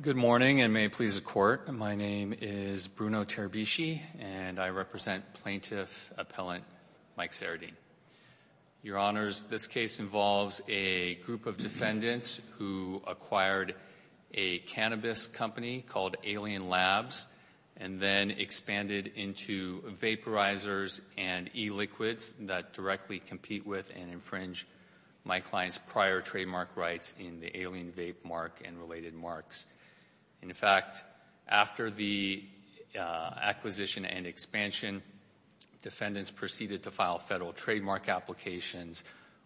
Good morning and may it please the Court. My name is Bruno Terabishi and I represent Plaintiff Appellant Mike Sarieddine. Your Honors, this case involves a group of defendants who acquired a cannabis company called Alien Labs and then expanded into vaporizers and e-liquids that directly compete with and infringe my client's prior trademark rights in the Alien Vape Mark and related marks. In fact, after the acquisition and expansion, defendants proceeded to file federal trademark applications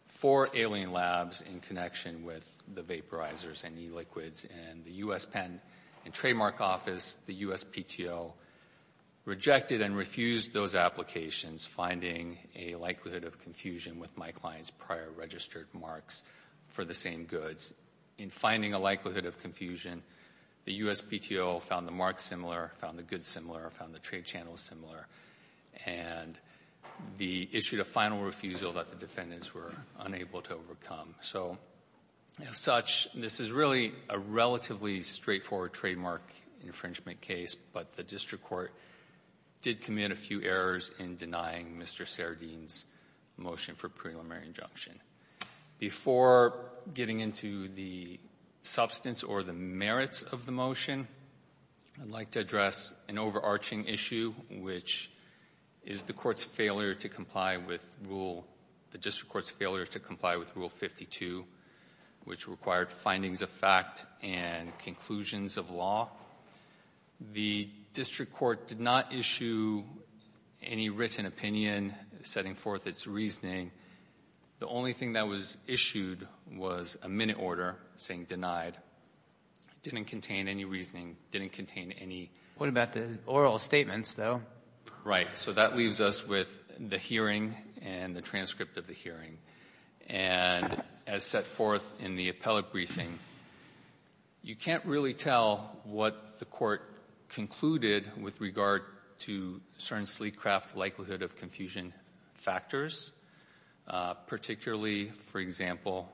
for Alien Labs in connection with the vaporizers and e-liquids and the U.S. Patent and Trademark Office, the U.S. PTO, rejected and refused those applications finding a likelihood of confusion with my client's prior registered marks for the same goods. In finding a likelihood of confusion, the U.S. PTO found the marks similar, found the goods similar, found the trade channels similar, and the issued a final refusal that the defendants were unable to overcome. So, as such, this is really a relatively straightforward trademark infringement case, but the District Court did commit a few errors in denying Mr. Sardine's motion for preliminary injunction. Before getting into the substance or the merits of the motion, I'd like to address an overarching issue, which is the Court's failure to comply with Rule, the District Court's failure to comply with Rule 52, which required findings of fact and conclusions of law. The District Court did not issue any written opinion setting forth its reasoning. The only thing that was issued was a minute order saying denied. It didn't contain any reasoning, didn't contain any ---- Robertson, What about the oral statements, though? Zaskowski Right. So that leaves us with the hearing and the transcript of the hearing. And as set forth in the appellate briefing, you can't really tell what the Court concluded with regard to certain sleek craft likelihood of confusion factors, particularly, for example,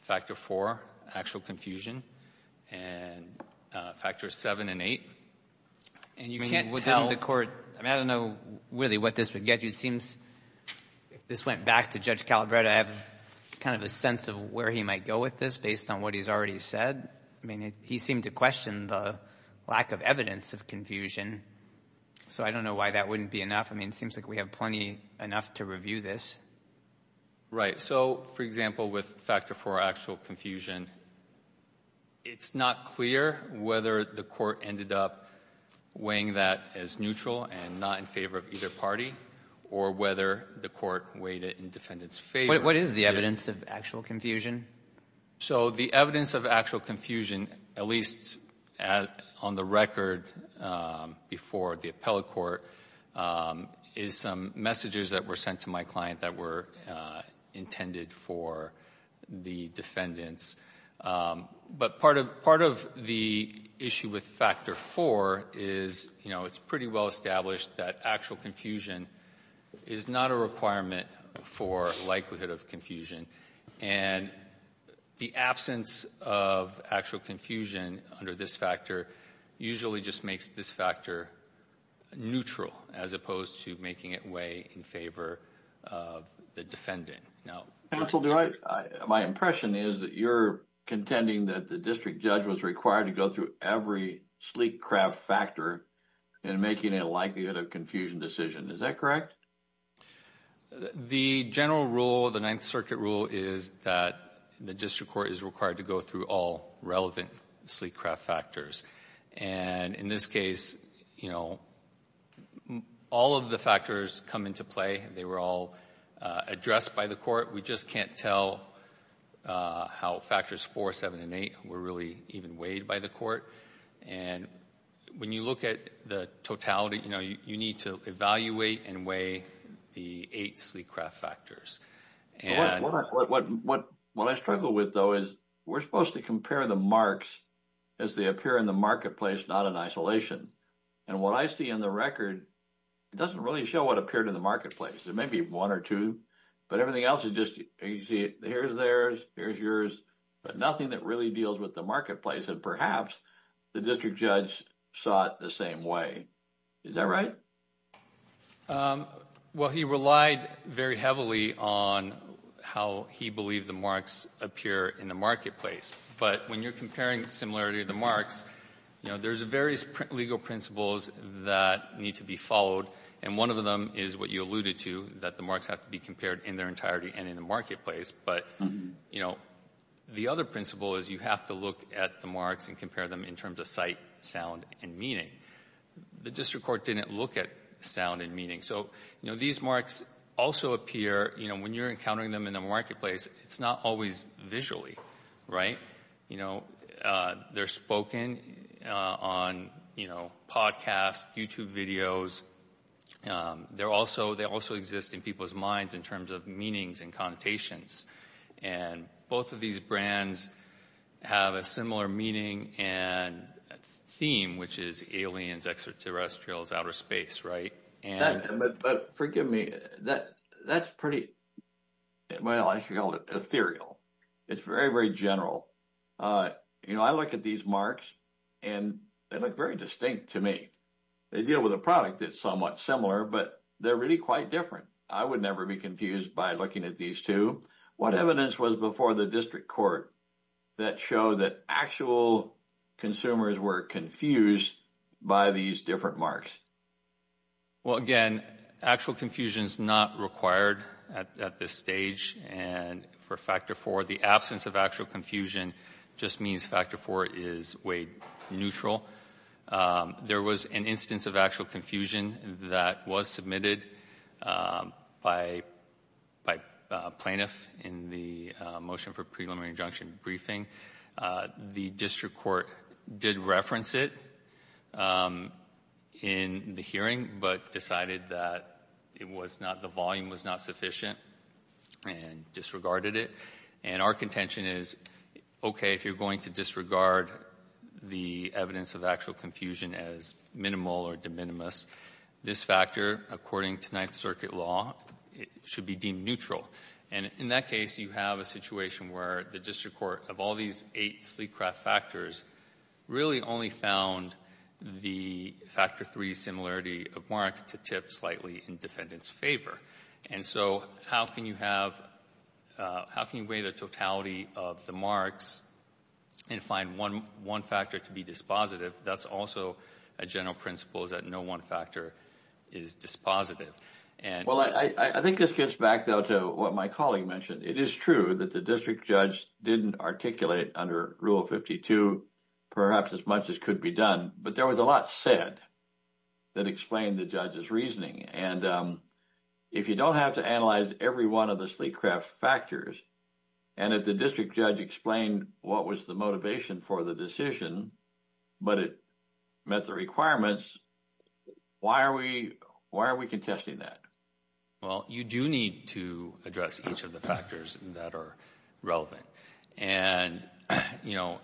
Factor IV, actual confusion, and Factors VII and VIII. And you can't tell ---- Kennedy And you can't tell the Court ---- I mean, I don't know really what this would get you. It seems, if this went back to Judge Calabretta, I have kind of a sense of where he might go with this based on what he's already said. I mean, he seemed to question the lack of evidence of confusion. So I don't know why that wouldn't be enough. I mean, it seems like we have plenty enough to review this. Zaskowski Right. So, for example, with Factor IV, actual confusion, it's not clear whether the Court ended up weighing that as neutral and not in favor of either party or whether the Court weighed it in defendant's favor. Kennedy What is the evidence of actual confusion? Zaskowski So the evidence of actual confusion, at least on the record before the appellate court, is some messages that were sent to my client that were intended for the defendants. But part of the issue with Factor IV is, you know, it's pretty well established that actual confusion is not a requirement for likelihood of confusion. And the absence of actual confusion under this factor usually just makes this factor neutral, as opposed to making it weigh in favor of the defendant. Kennedy Counsel, my impression is that you're contending that the district judge was required to go through every sleek craft factor in making a likelihood of confusion decision. Is that correct? Zaskowski The general rule, the Ninth Circuit rule, is that the district court is required to go through all relevant sleek craft factors. And in this case, you know, all of the factors come into play. They were all addressed by the Court. We just can't tell how Factors IV, VII, and VIII were really even weighed by the district court. And when you look at the totality, you know, you need to evaluate and weigh the eight sleek craft factors. And what I struggle with, though, is we're supposed to compare the marks as they appear in the marketplace, not in isolation. And what I see in the record doesn't really show what appeared in the marketplace. It may be one or two, but everything else is just here's theirs, here's yours, but there's nothing that really deals with the marketplace. And perhaps the district judge saw it the same way. Is that right? Well, he relied very heavily on how he believed the marks appear in the marketplace. But when you're comparing the similarity of the marks, you know, there's various legal principles that need to be followed. And one of them is what you alluded to, that the marks have to be compared in their entirety and in the marketplace. But, you know, the other principle is you have to look at the marks and compare them in terms of sight, sound and meaning. The district court didn't look at sound and meaning. So, you know, these marks also appear, you know, when you're encountering them in the marketplace, it's not always visually right. You know, they're spoken on, you know, podcasts, YouTube videos. They also exist in people's minds in terms of meanings and connotations. And both of these brands have a similar meaning and theme, which is aliens, extraterrestrials, outer space. But forgive me, that's pretty, well, I should call it ethereal. It's very, very general. You know, I look at these marks and they look very distinct to me. They deal with a product that's somewhat similar, but they're really quite different. I would never be confused by looking at these two. What evidence was before the district court that showed that actual consumers were confused by these different marks? Well, again, actual confusion is not required at this stage. And for factor four, the absence of actual confusion just means factor four is weight neutral. There was an instance of actual confusion that was submitted by a plaintiff in the motion for preliminary injunction briefing. The district court did reference it in the hearing, but decided that it was not the volume was not sufficient and disregarded it. And our contention is, OK, if you're going to disregard the evidence of the actual confusion as minimal or de minimis, this factor, according to Ninth Circuit law, should be deemed neutral. And in that case, you have a situation where the district court, of all these eight sleepcraft factors, really only found the factor three similarity of marks to tip slightly in defendant's favor. And so how can you have how can you weigh the totality of the marks and find one factor to be dispositive? That's also a general principle is that no one factor is dispositive. And well, I think this gets back, though, to what my colleague mentioned. It is true that the district judge didn't articulate under Rule 52, perhaps as much as could be done. But there was a lot said that explained the judge's reasoning. And if you don't have to analyze every one of the sleepcraft factors and if the but it met the requirements, why are we why are we contesting that? Well, you do need to address each of the factors that are relevant. And, you know,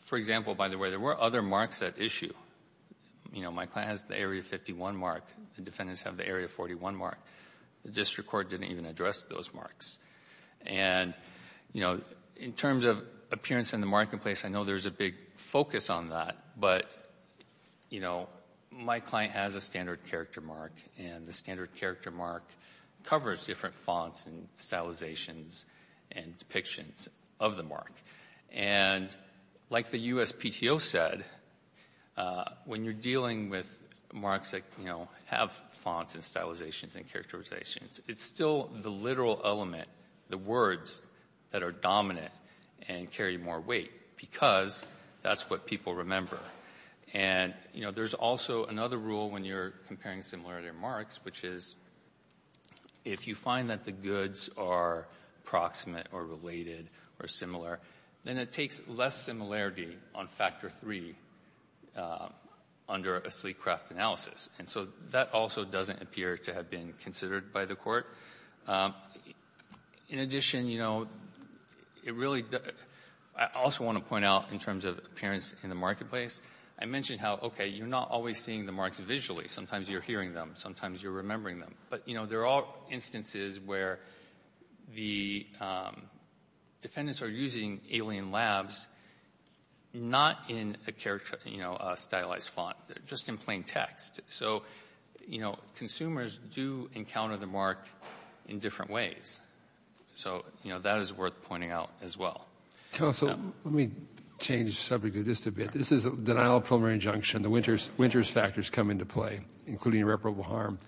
for example, by the way, there were other marks at issue. You know, my class, the Area 51 mark, the defendants have the Area 41 mark. The district court didn't even address those marks. And, you know, in terms of appearance in the marketplace, I know there's a big focus on that, but, you know, my client has a standard character mark and the standard character mark covers different fonts and stylizations and depictions of the mark. And like the USPTO said, when you're dealing with marks that, you know, have fonts and stylizations and characterizations, it's still the literal element, the words that are dominant and carry more weight because that's what people remember. And, you know, there's also another rule when you're comparing similarity marks, which is if you find that the goods are proximate or related or similar, then it takes less similarity on factor three under a sleepcraft analysis. And so that also doesn't appear to have been considered by the Court. In addition, you know, it really doesn't — I also want to point out in terms of appearance in the marketplace, I mentioned how, okay, you're not always seeing the marks visually. Sometimes you're hearing them. Sometimes you're remembering them. But, you know, there are instances where the defendants are using alien labs not in a character or, you know, a stylized font, just in plain text. So, you know, consumers do encounter the mark in different ways. So, you know, that is worth pointing out as well. Counsel, let me change the subject of this a bit. This is a denial of preliminary injunction. The Winters factors come into play, including irreparable harm.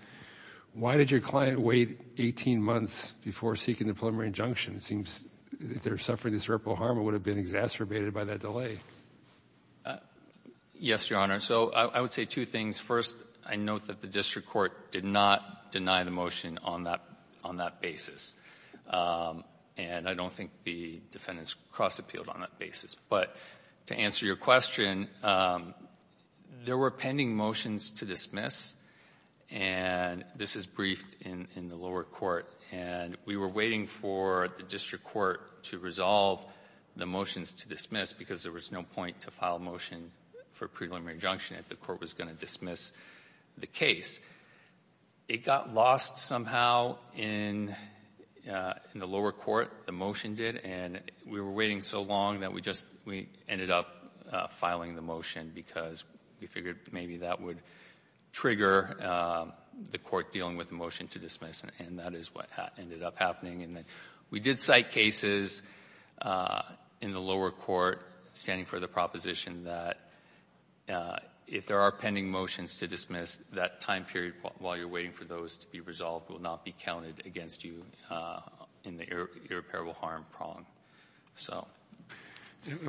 Why did your client wait 18 months before seeking the preliminary injunction? It seems if they're suffering this irreparable harm, it would have been exacerbated by that delay. Yes, Your Honor. So I would say two things. First, I note that the district court did not deny the motion on that basis. And I don't think the defendants cross-appealed on that basis. But to answer your question, there were pending motions to dismiss, and this is briefed in the lower court, and we were waiting for the district court to resolve the motions to dismiss because there was no point to file a motion for preliminary injunction if the court was going to dismiss the case. It got lost somehow in the lower court, the motion did, and we were waiting so long that we just ended up filing the motion because we figured maybe that would trigger the court dealing with the motion to dismiss, and that is what ended up happening. We did cite cases in the lower court standing for the proposition that if there are pending motions to dismiss, that time period while you're waiting for those to be resolved will not be counted against you in the irreparable harm prong.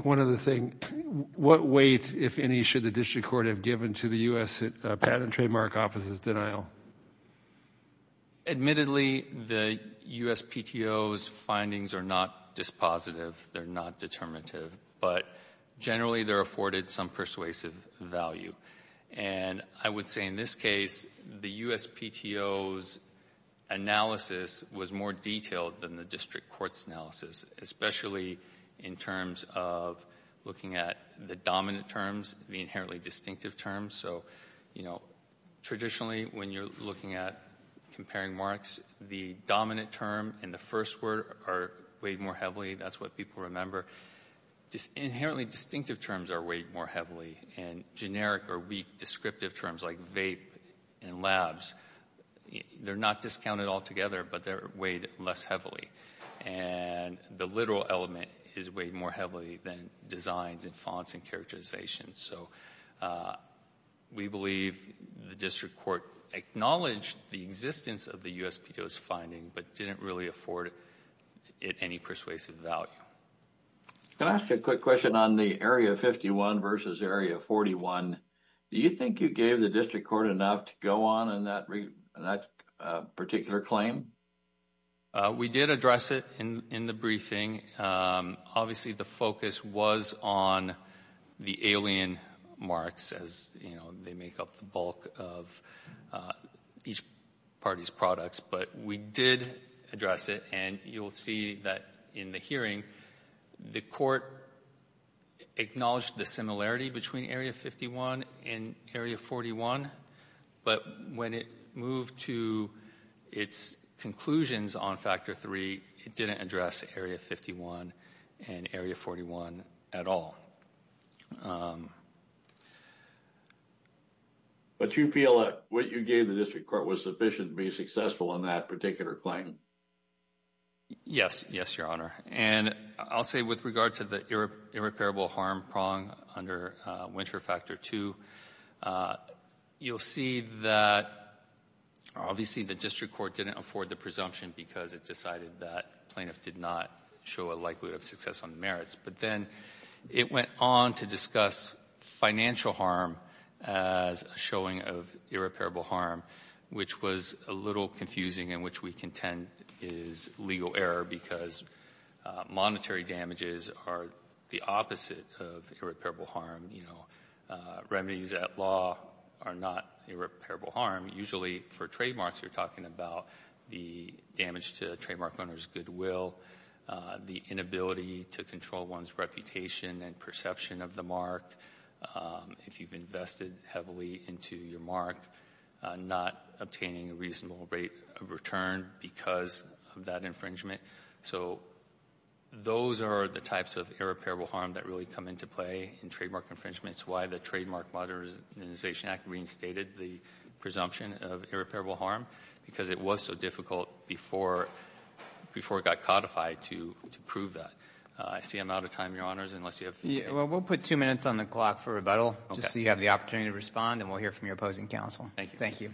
One other thing. What weight, if any, should the district court have given to the U.S. Patent and Trademark Office's denial? Admittedly, the USPTO's findings are not dispositive, they're not determinative, but generally they're afforded some persuasive value. And I would say in this case, the USPTO's analysis was more detailed than the district court's analysis, especially in terms of looking at the dominant terms, the inherently distinctive terms. So, you know, traditionally when you're looking at comparing marks, the dominant term and the first word are weighed more heavily, that's what people remember. Inherently distinctive terms are weighed more heavily, and generic or weak descriptive terms like vape and labs, they're not discounted altogether, but they're weighed less heavily. And the literal element is weighed more heavily than designs and fonts and characterizations. So, we believe the district court acknowledged the existence of the USPTO's finding, but didn't really afford it any persuasive value. Can I ask you a quick question on the Area 51 versus Area 41? Do you think you gave the district court enough to go on in that particular claim? We did address it in the briefing. Obviously, the focus was on the alien marks as, you know, they make up the bulk of each party's products. But we did address it, and you'll see that in the hearing, the court acknowledged the similarity between Area 51 and Area 41, but when it moved to its conclusions on Factor 3, it didn't address Area 51 and Area 41 at all. But you feel that what you gave the district court was sufficient to be successful in that particular claim? Yes. Yes, Your Honor. And I'll say with regard to the irreparable harm prong under Winter Factor 2, you'll see that obviously the district court didn't afford the presumption because it decided that plaintiff did not show a likelihood of success on the merits. But then it went on to discuss financial harm as a showing of irreparable harm, which was a little confusing and which we contend is legal error because monetary damages are the opposite of irreparable harm. You know, remedies at law are not irreparable harm. Usually for trademarks, you're talking about the damage to a trademark owner's goodwill, the inability to control one's reputation and perception of the mark if you've invested heavily into your mark, not obtaining a reasonable rate of return because of that infringement. So those are the types of irreparable harm that really come into play in trademark infringements, and it's why the Trademark Modernization Act reinstated the presumption of irreparable harm because it was so difficult before it got codified to prove that. I see I'm out of time, Your Honors, unless you have... Well, we'll put two minutes on the clock for rebuttal just so you have the opportunity to respond and we'll hear from your opposing counsel. Thank you. Thank you.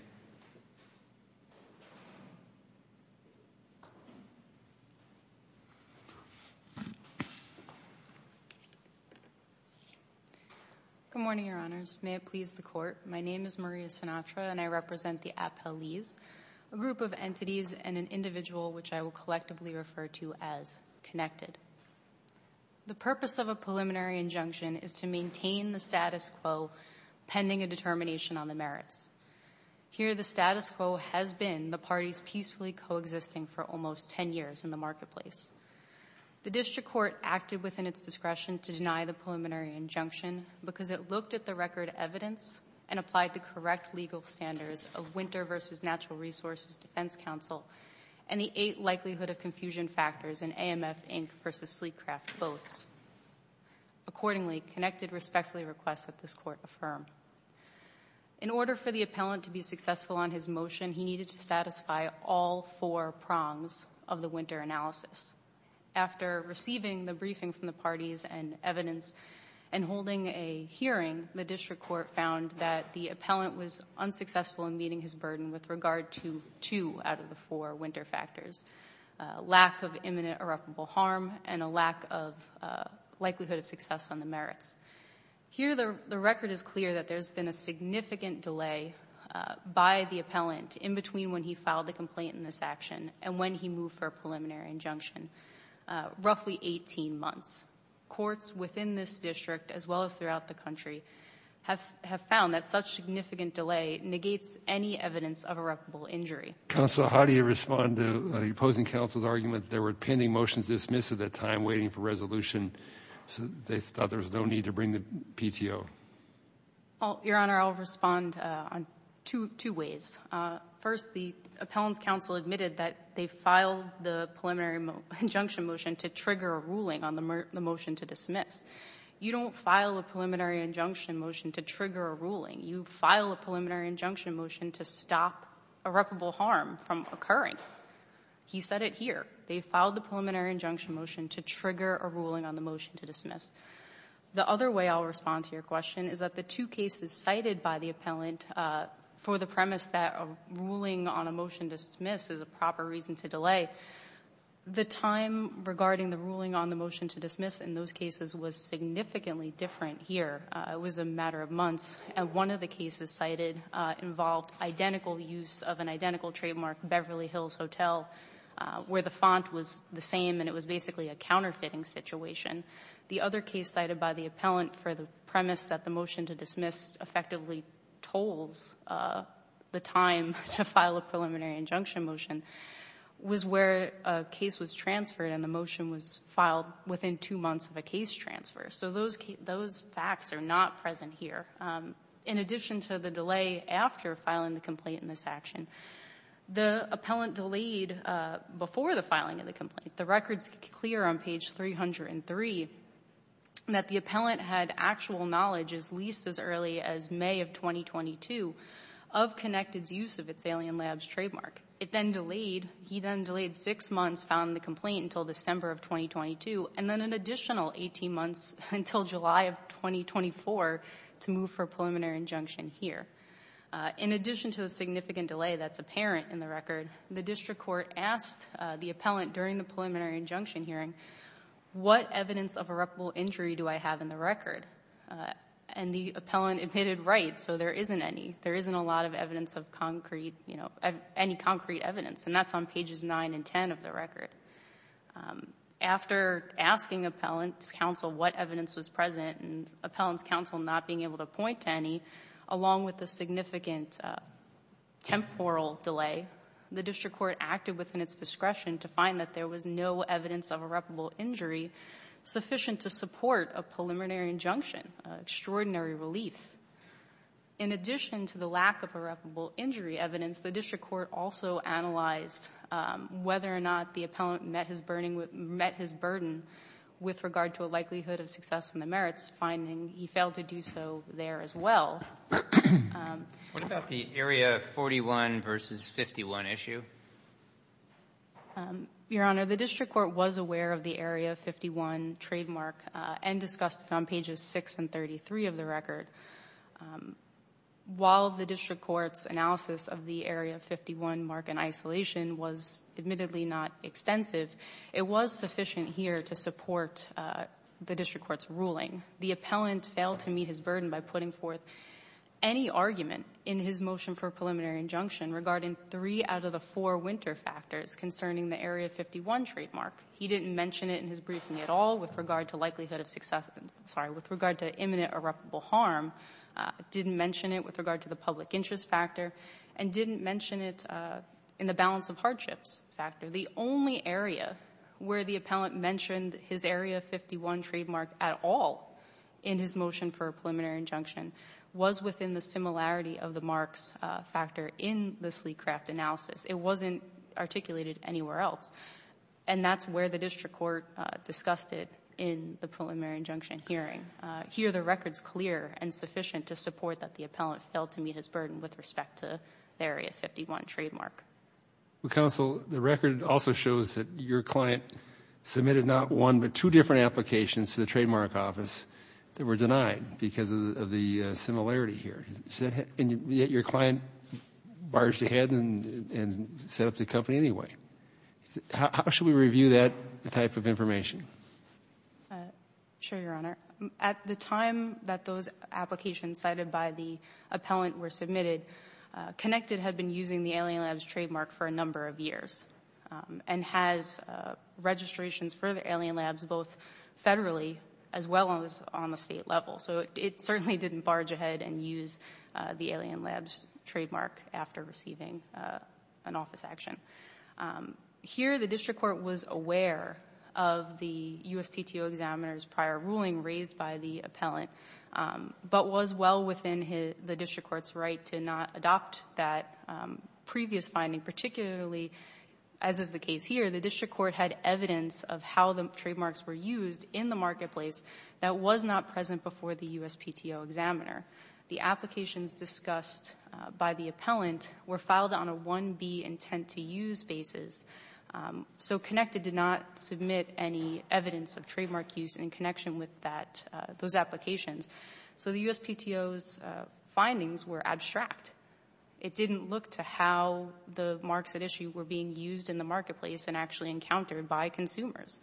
Good morning, Your Honors. May it please the Court. My name is Maria Sinatra, and I represent the Appellees, a group of entities and an individual which I will collectively refer to as Connected. The purpose of a preliminary injunction is to maintain the status quo pending a determination on the merits. Here, the status quo has been the parties peacefully coexisting for almost 10 years in the marketplace. The District Court acted within its discretion to deny the preliminary injunction because it looked at the record evidence and applied the correct legal standards of Winter v. Natural Resources Defense Council and the eight likelihood of confusion factors in AMF, Inc. v. Sleetcraft Boats. Accordingly, Connected respectfully requests that this Court affirm. In order for the appellant to be successful on his motion, he needed to satisfy all four prongs of the winter analysis. After receiving the briefing from the parties and evidence and holding a hearing, the District Court found that the appellant was unsuccessful in meeting his burden with regard to two out of the four winter factors, a lack of imminent irreparable harm and a lack of likelihood of success on the merits. Here, the record is clear that there's been a significant delay by the appellant in between when he filed the complaint in this action and when he moved for a preliminary injunction, roughly 18 months. Courts within this district, as well as throughout the country, have found that such significant delay negates any evidence of irreparable injury. Counsel, how do you respond to the opposing counsel's argument that there were pending motions dismissed at that time waiting for resolution, so they thought there was no need to bring the PTO? Well, Your Honor, I'll respond in two ways. First, the appellant's counsel admitted that they filed the preliminary injunction motion to trigger a ruling on the motion to dismiss. You don't file a preliminary injunction motion to trigger a ruling. You file a preliminary injunction motion to stop irreparable harm from occurring. He said it here. They filed the preliminary injunction motion to trigger a ruling on the motion to dismiss. The other way I'll respond to your question is that the two cases cited by the appellant for the premise that a ruling on a motion to dismiss is a proper reason to delay, the time regarding the ruling on the motion to dismiss in those cases was significantly different here. It was a matter of months. And one of the cases cited involved identical use of an identical trademark, Beverly Hills Hotel, where the font was the same and it was basically a counterfeiting situation. The other case cited by the appellant for the premise that the motion to dismiss effectively tolls the time to file a preliminary injunction motion, was where a case was transferred and the motion was filed within two months of a case transfer. So those facts are not present here. In addition to the delay after filing the complaint in this action, the appellant delayed before the filing of the complaint. The record's clear on page 303 that the appellant had actual knowledge, at least as early as May of 2022, of Connected's use of its Alien Labs trademark. It then delayed, he then delayed six months, found the complaint until December of 2022, and then an additional 18 months until July of 2024 to move for a preliminary injunction here. In addition to the significant delay that's apparent in the record, the district court asked the appellant during the preliminary injunction hearing, what evidence of irreparable injury do I have in the record? And the appellant admitted, right, so there isn't any. There isn't a lot of evidence of concrete, any concrete evidence, and that's on pages nine and ten of the record. After asking appellant's counsel what evidence was present and appellant's counsel not being able to point to any, along with the significant temporal delay, the district court acted within its discretion to find that there was no evidence of irreparable injury sufficient to support a preliminary injunction, an extraordinary relief. In addition to the lack of irreparable injury evidence, the district court also analyzed whether or not the appellant met his burden with regard to a likelihood of success in the merits, finding he failed to do so there as well. What about the Area 41 versus 51 issue? Your Honor, the district court was aware of the Area 51 trademark and discussed it on pages 6 and 33 of the record. While the district court's analysis of the Area 51 mark in isolation was admittedly not extensive, it was sufficient here to support the district court's ruling. The appellant failed to meet his burden by putting forth any argument in his motion for preliminary injunction regarding three out of the four winter factors concerning the Area 51 trademark. He didn't mention it in his briefing at all with regard to likelihood of success, sorry, with regard to imminent irreparable harm, didn't mention it with regard to the public interest factor, and didn't mention it in the balance of hardships factor. The only area where the appellant mentioned his Area 51 trademark at all in his motion for a preliminary injunction was within the similarity of the marks factor in the Sleekcraft analysis. It wasn't articulated anywhere else. And that's where the district court discussed it in the preliminary injunction hearing. Here, the record's clear and sufficient to support that the appellant failed to meet his burden with respect to the Area 51 trademark. Well, counsel, the record also shows that your client submitted not one but two different applications to the trademark office that were denied because of the similarity here. And yet your client barged ahead and set up the company anyway. How should we review that type of information? Sure, Your Honor. At the time that those applications cited by the appellant were submitted, Connected had been using the Alien Labs trademark for a number of years and has registrations for the Alien Labs both federally as well as on the State level. So it certainly didn't barge ahead and use the Alien Labs trademark after receiving an office action. Here, the district court was aware of the USPTO examiner's prior ruling raised by the appellant but was well within the district court's right to not adopt that previous finding, particularly as is the case here. The district court had evidence of how the trademarks were used in the marketplace that was not present before the USPTO examiner. The applications discussed by the appellant were filed on a 1B intent-to-use basis, so Connected did not submit any evidence of trademark use in connection with those applications. So the USPTO's findings were abstract. It didn't look to how the marks at issue were being used in the marketplace and actually encountered by consumers.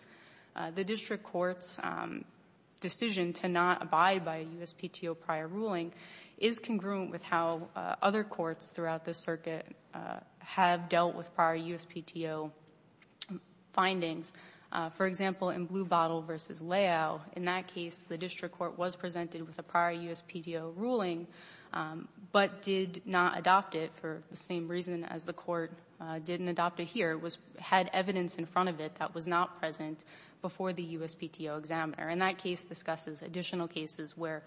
The district court's decision to not abide by a USPTO prior ruling is congruent with how other courts throughout the circuit have dealt with prior USPTO findings. For example, in Blue Bottle v. Layow, in that case, the district court was presented with a prior USPTO ruling but did not adopt it for the same reason as the court didn't adopt it here, had evidence in front of it that was not present before the USPTO examiner. And that case discusses additional cases where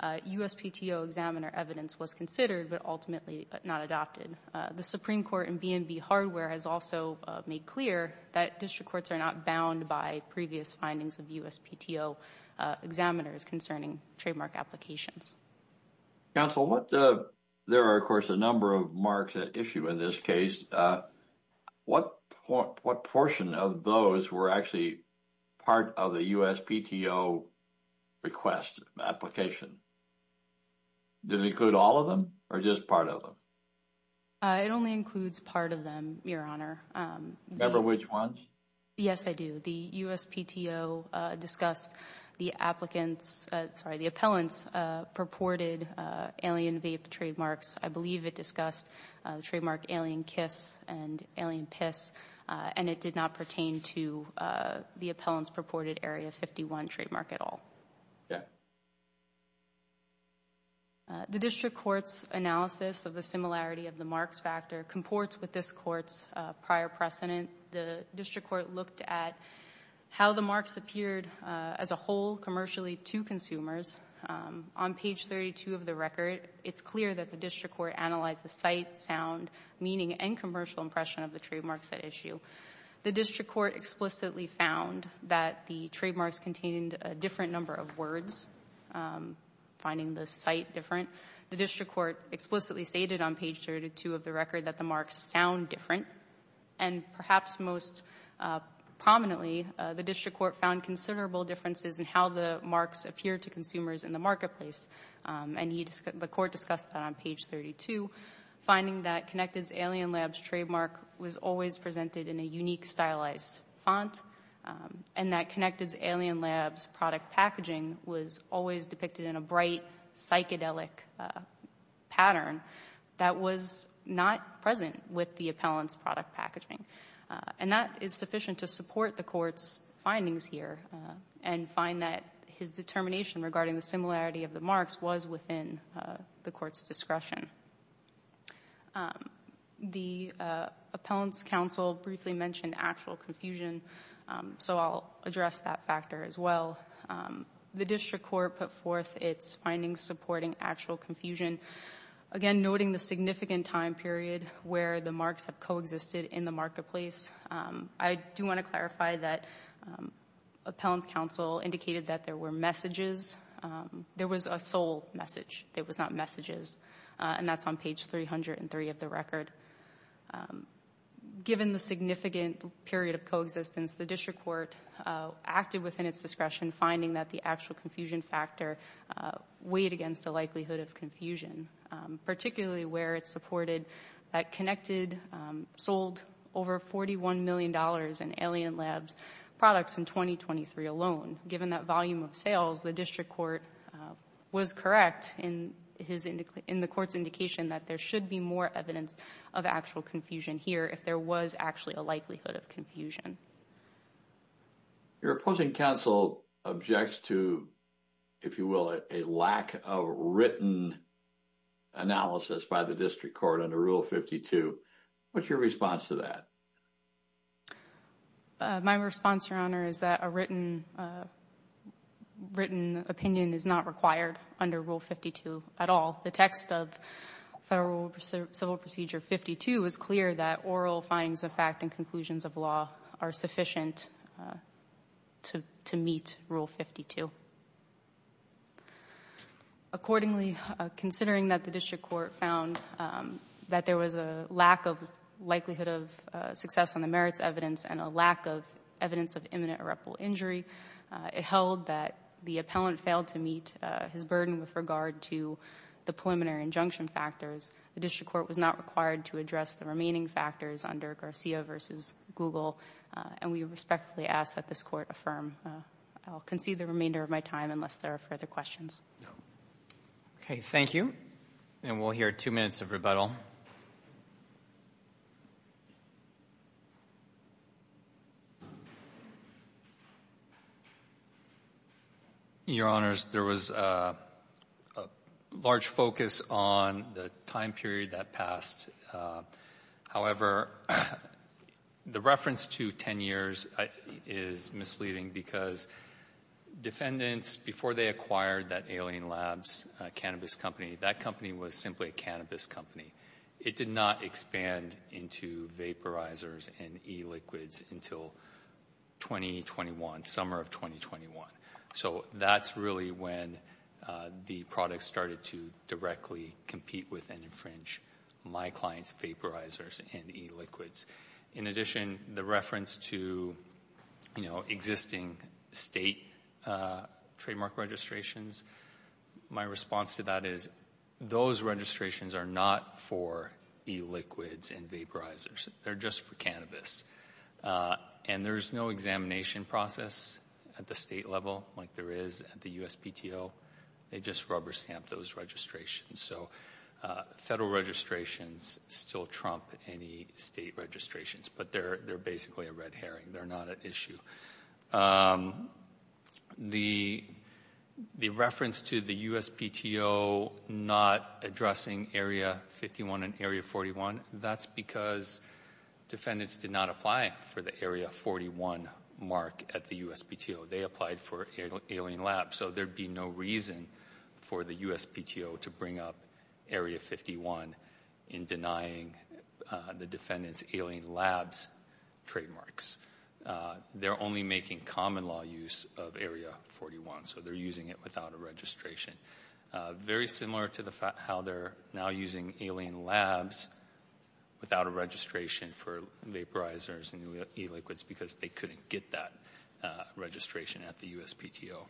USPTO examiner evidence was considered but ultimately not adopted. The Supreme Court in B&B Hardware has also made clear that district courts are not bound by previous findings of USPTO examiners concerning trademark applications. Counsel, there are, of course, a number of marks at issue in this case. What portion of those were actually part of the USPTO request application? Did it include all of them or just part of them? It only includes part of them, Your Honor. Remember which ones? Yes, I do. The USPTO discussed the appellant's purported Alien Vape trademarks. I believe it discussed the trademark Alien Kiss and Alien Piss, and it did not pertain to the appellant's purported Area 51 trademark at all. The district court's analysis of the similarity of the marks factor comports with this court's prior precedent. The district court looked at how the marks appeared as a whole commercially to consumers. On page 32 of the record, it's clear that the district court analyzed the sight, sound, meaning, and commercial impression of the trademarks at issue. The district court explicitly found that the trademarks contained a different number of words, finding the sight different. The district court explicitly stated on page 32 of the record that the marks sound different and perhaps most prominently, the district court found considerable differences in how the marks appear to consumers in the marketplace, and the court discussed that on page 32, finding that Connected's Alien Labs trademark was always presented in a unique stylized font and that Connected's Alien Labs product packaging was always depicted in a bright psychedelic pattern that was not present with the appellant's product packaging. And that is sufficient to support the court's findings here and find that his determination regarding the similarity of the marks was within the court's discretion. The appellant's counsel briefly mentioned actual confusion, so I'll address that factor as well. The district court put forth its findings supporting actual confusion, again, noting the significant time period where the marks have coexisted in the marketplace. I do want to clarify that appellant's counsel indicated that there were messages. There was a sole message. It was not messages, and that's on page 303 of the record. Given the significant period of coexistence, the district court acted within its discretion finding that the actual confusion factor weighed against the likelihood of confusion, particularly where it supported that Connected sold over $41 million in Alien Labs products in 2023 alone. Given that volume of sales, the district court was correct in the court's indication that there should be more evidence of actual confusion here if there was actually a likelihood of confusion. Your opposing counsel objects to, if you will, a lack of written analysis by the district court under Rule 52. What's your response to that? My response, Your Honor, is that a written opinion is not required under Rule 52 at all. The text of Federal Civil Procedure 52 is clear that oral findings of fact and conclusions of law are sufficient to meet Rule 52. Accordingly, considering that the district court found that there was a lack of likelihood of success on the merits evidence and a lack of evidence of imminent irreparable injury, it held that the appellant failed to meet his burden with regard to the preliminary injunction factors. The district court was not required to address the remaining factors under Garcia v. Google, and we respectfully ask that this court affirm. I'll concede the remainder of my time unless there are further questions. Okay, thank you, and we'll hear two minutes of rebuttal. Your Honors, there was a large focus on the time period that passed. However, the reference to 10 years is misleading because defendants, before they acquired that Alien Labs cannabis company, that company was simply a cannabis company. It did not expand into vaporizers and e-liquids until 2021, summer of 2021. So that's really when the product started to directly compete with and infringe my client's vaporizers and e-liquids. In addition, the reference to existing state trademark registrations, my response to that is those registrations are not for e-liquids and vaporizers. They're just for cannabis. And there's no examination process at the state level like there is at the USPTO. They just rubber stamp those registrations. So federal registrations still trump any state registrations, but they're basically a red herring. They're not an issue. The reference to the USPTO not addressing Area 51 and Area 41, that's because defendants did not apply for the Area 41 mark at the USPTO. They applied for Alien Labs. So there'd be no reason for the USPTO to bring up Area 51 in denying the defendants Alien Labs trademarks. They're only making common law use of Area 41. So they're using it without a registration. Very similar to how they're now using Alien Labs without a registration for vaporizers and e-liquids because they couldn't get that registration at the USPTO.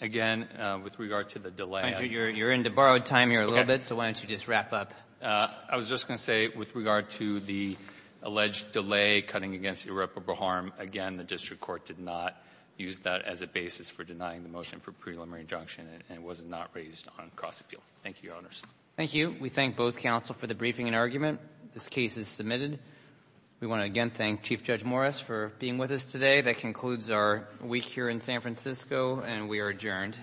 Again, with regard to the delay... Andrew, you're into borrowed time here a little bit. So why don't you just wrap up? I was just going to say, with regard to the alleged delay cutting against irreparable harm, again, the district court did not use that as a basis for denying the motion for preliminary injunction, and it was not raised on cross-appeal. Thank you, Your Honors. Thank you. We thank both counsel for the briefing and argument. This case is submitted. We want to again thank Chief Judge Morris for being with us today. That concludes our week here in San Francisco, and we are adjourned. Thank you.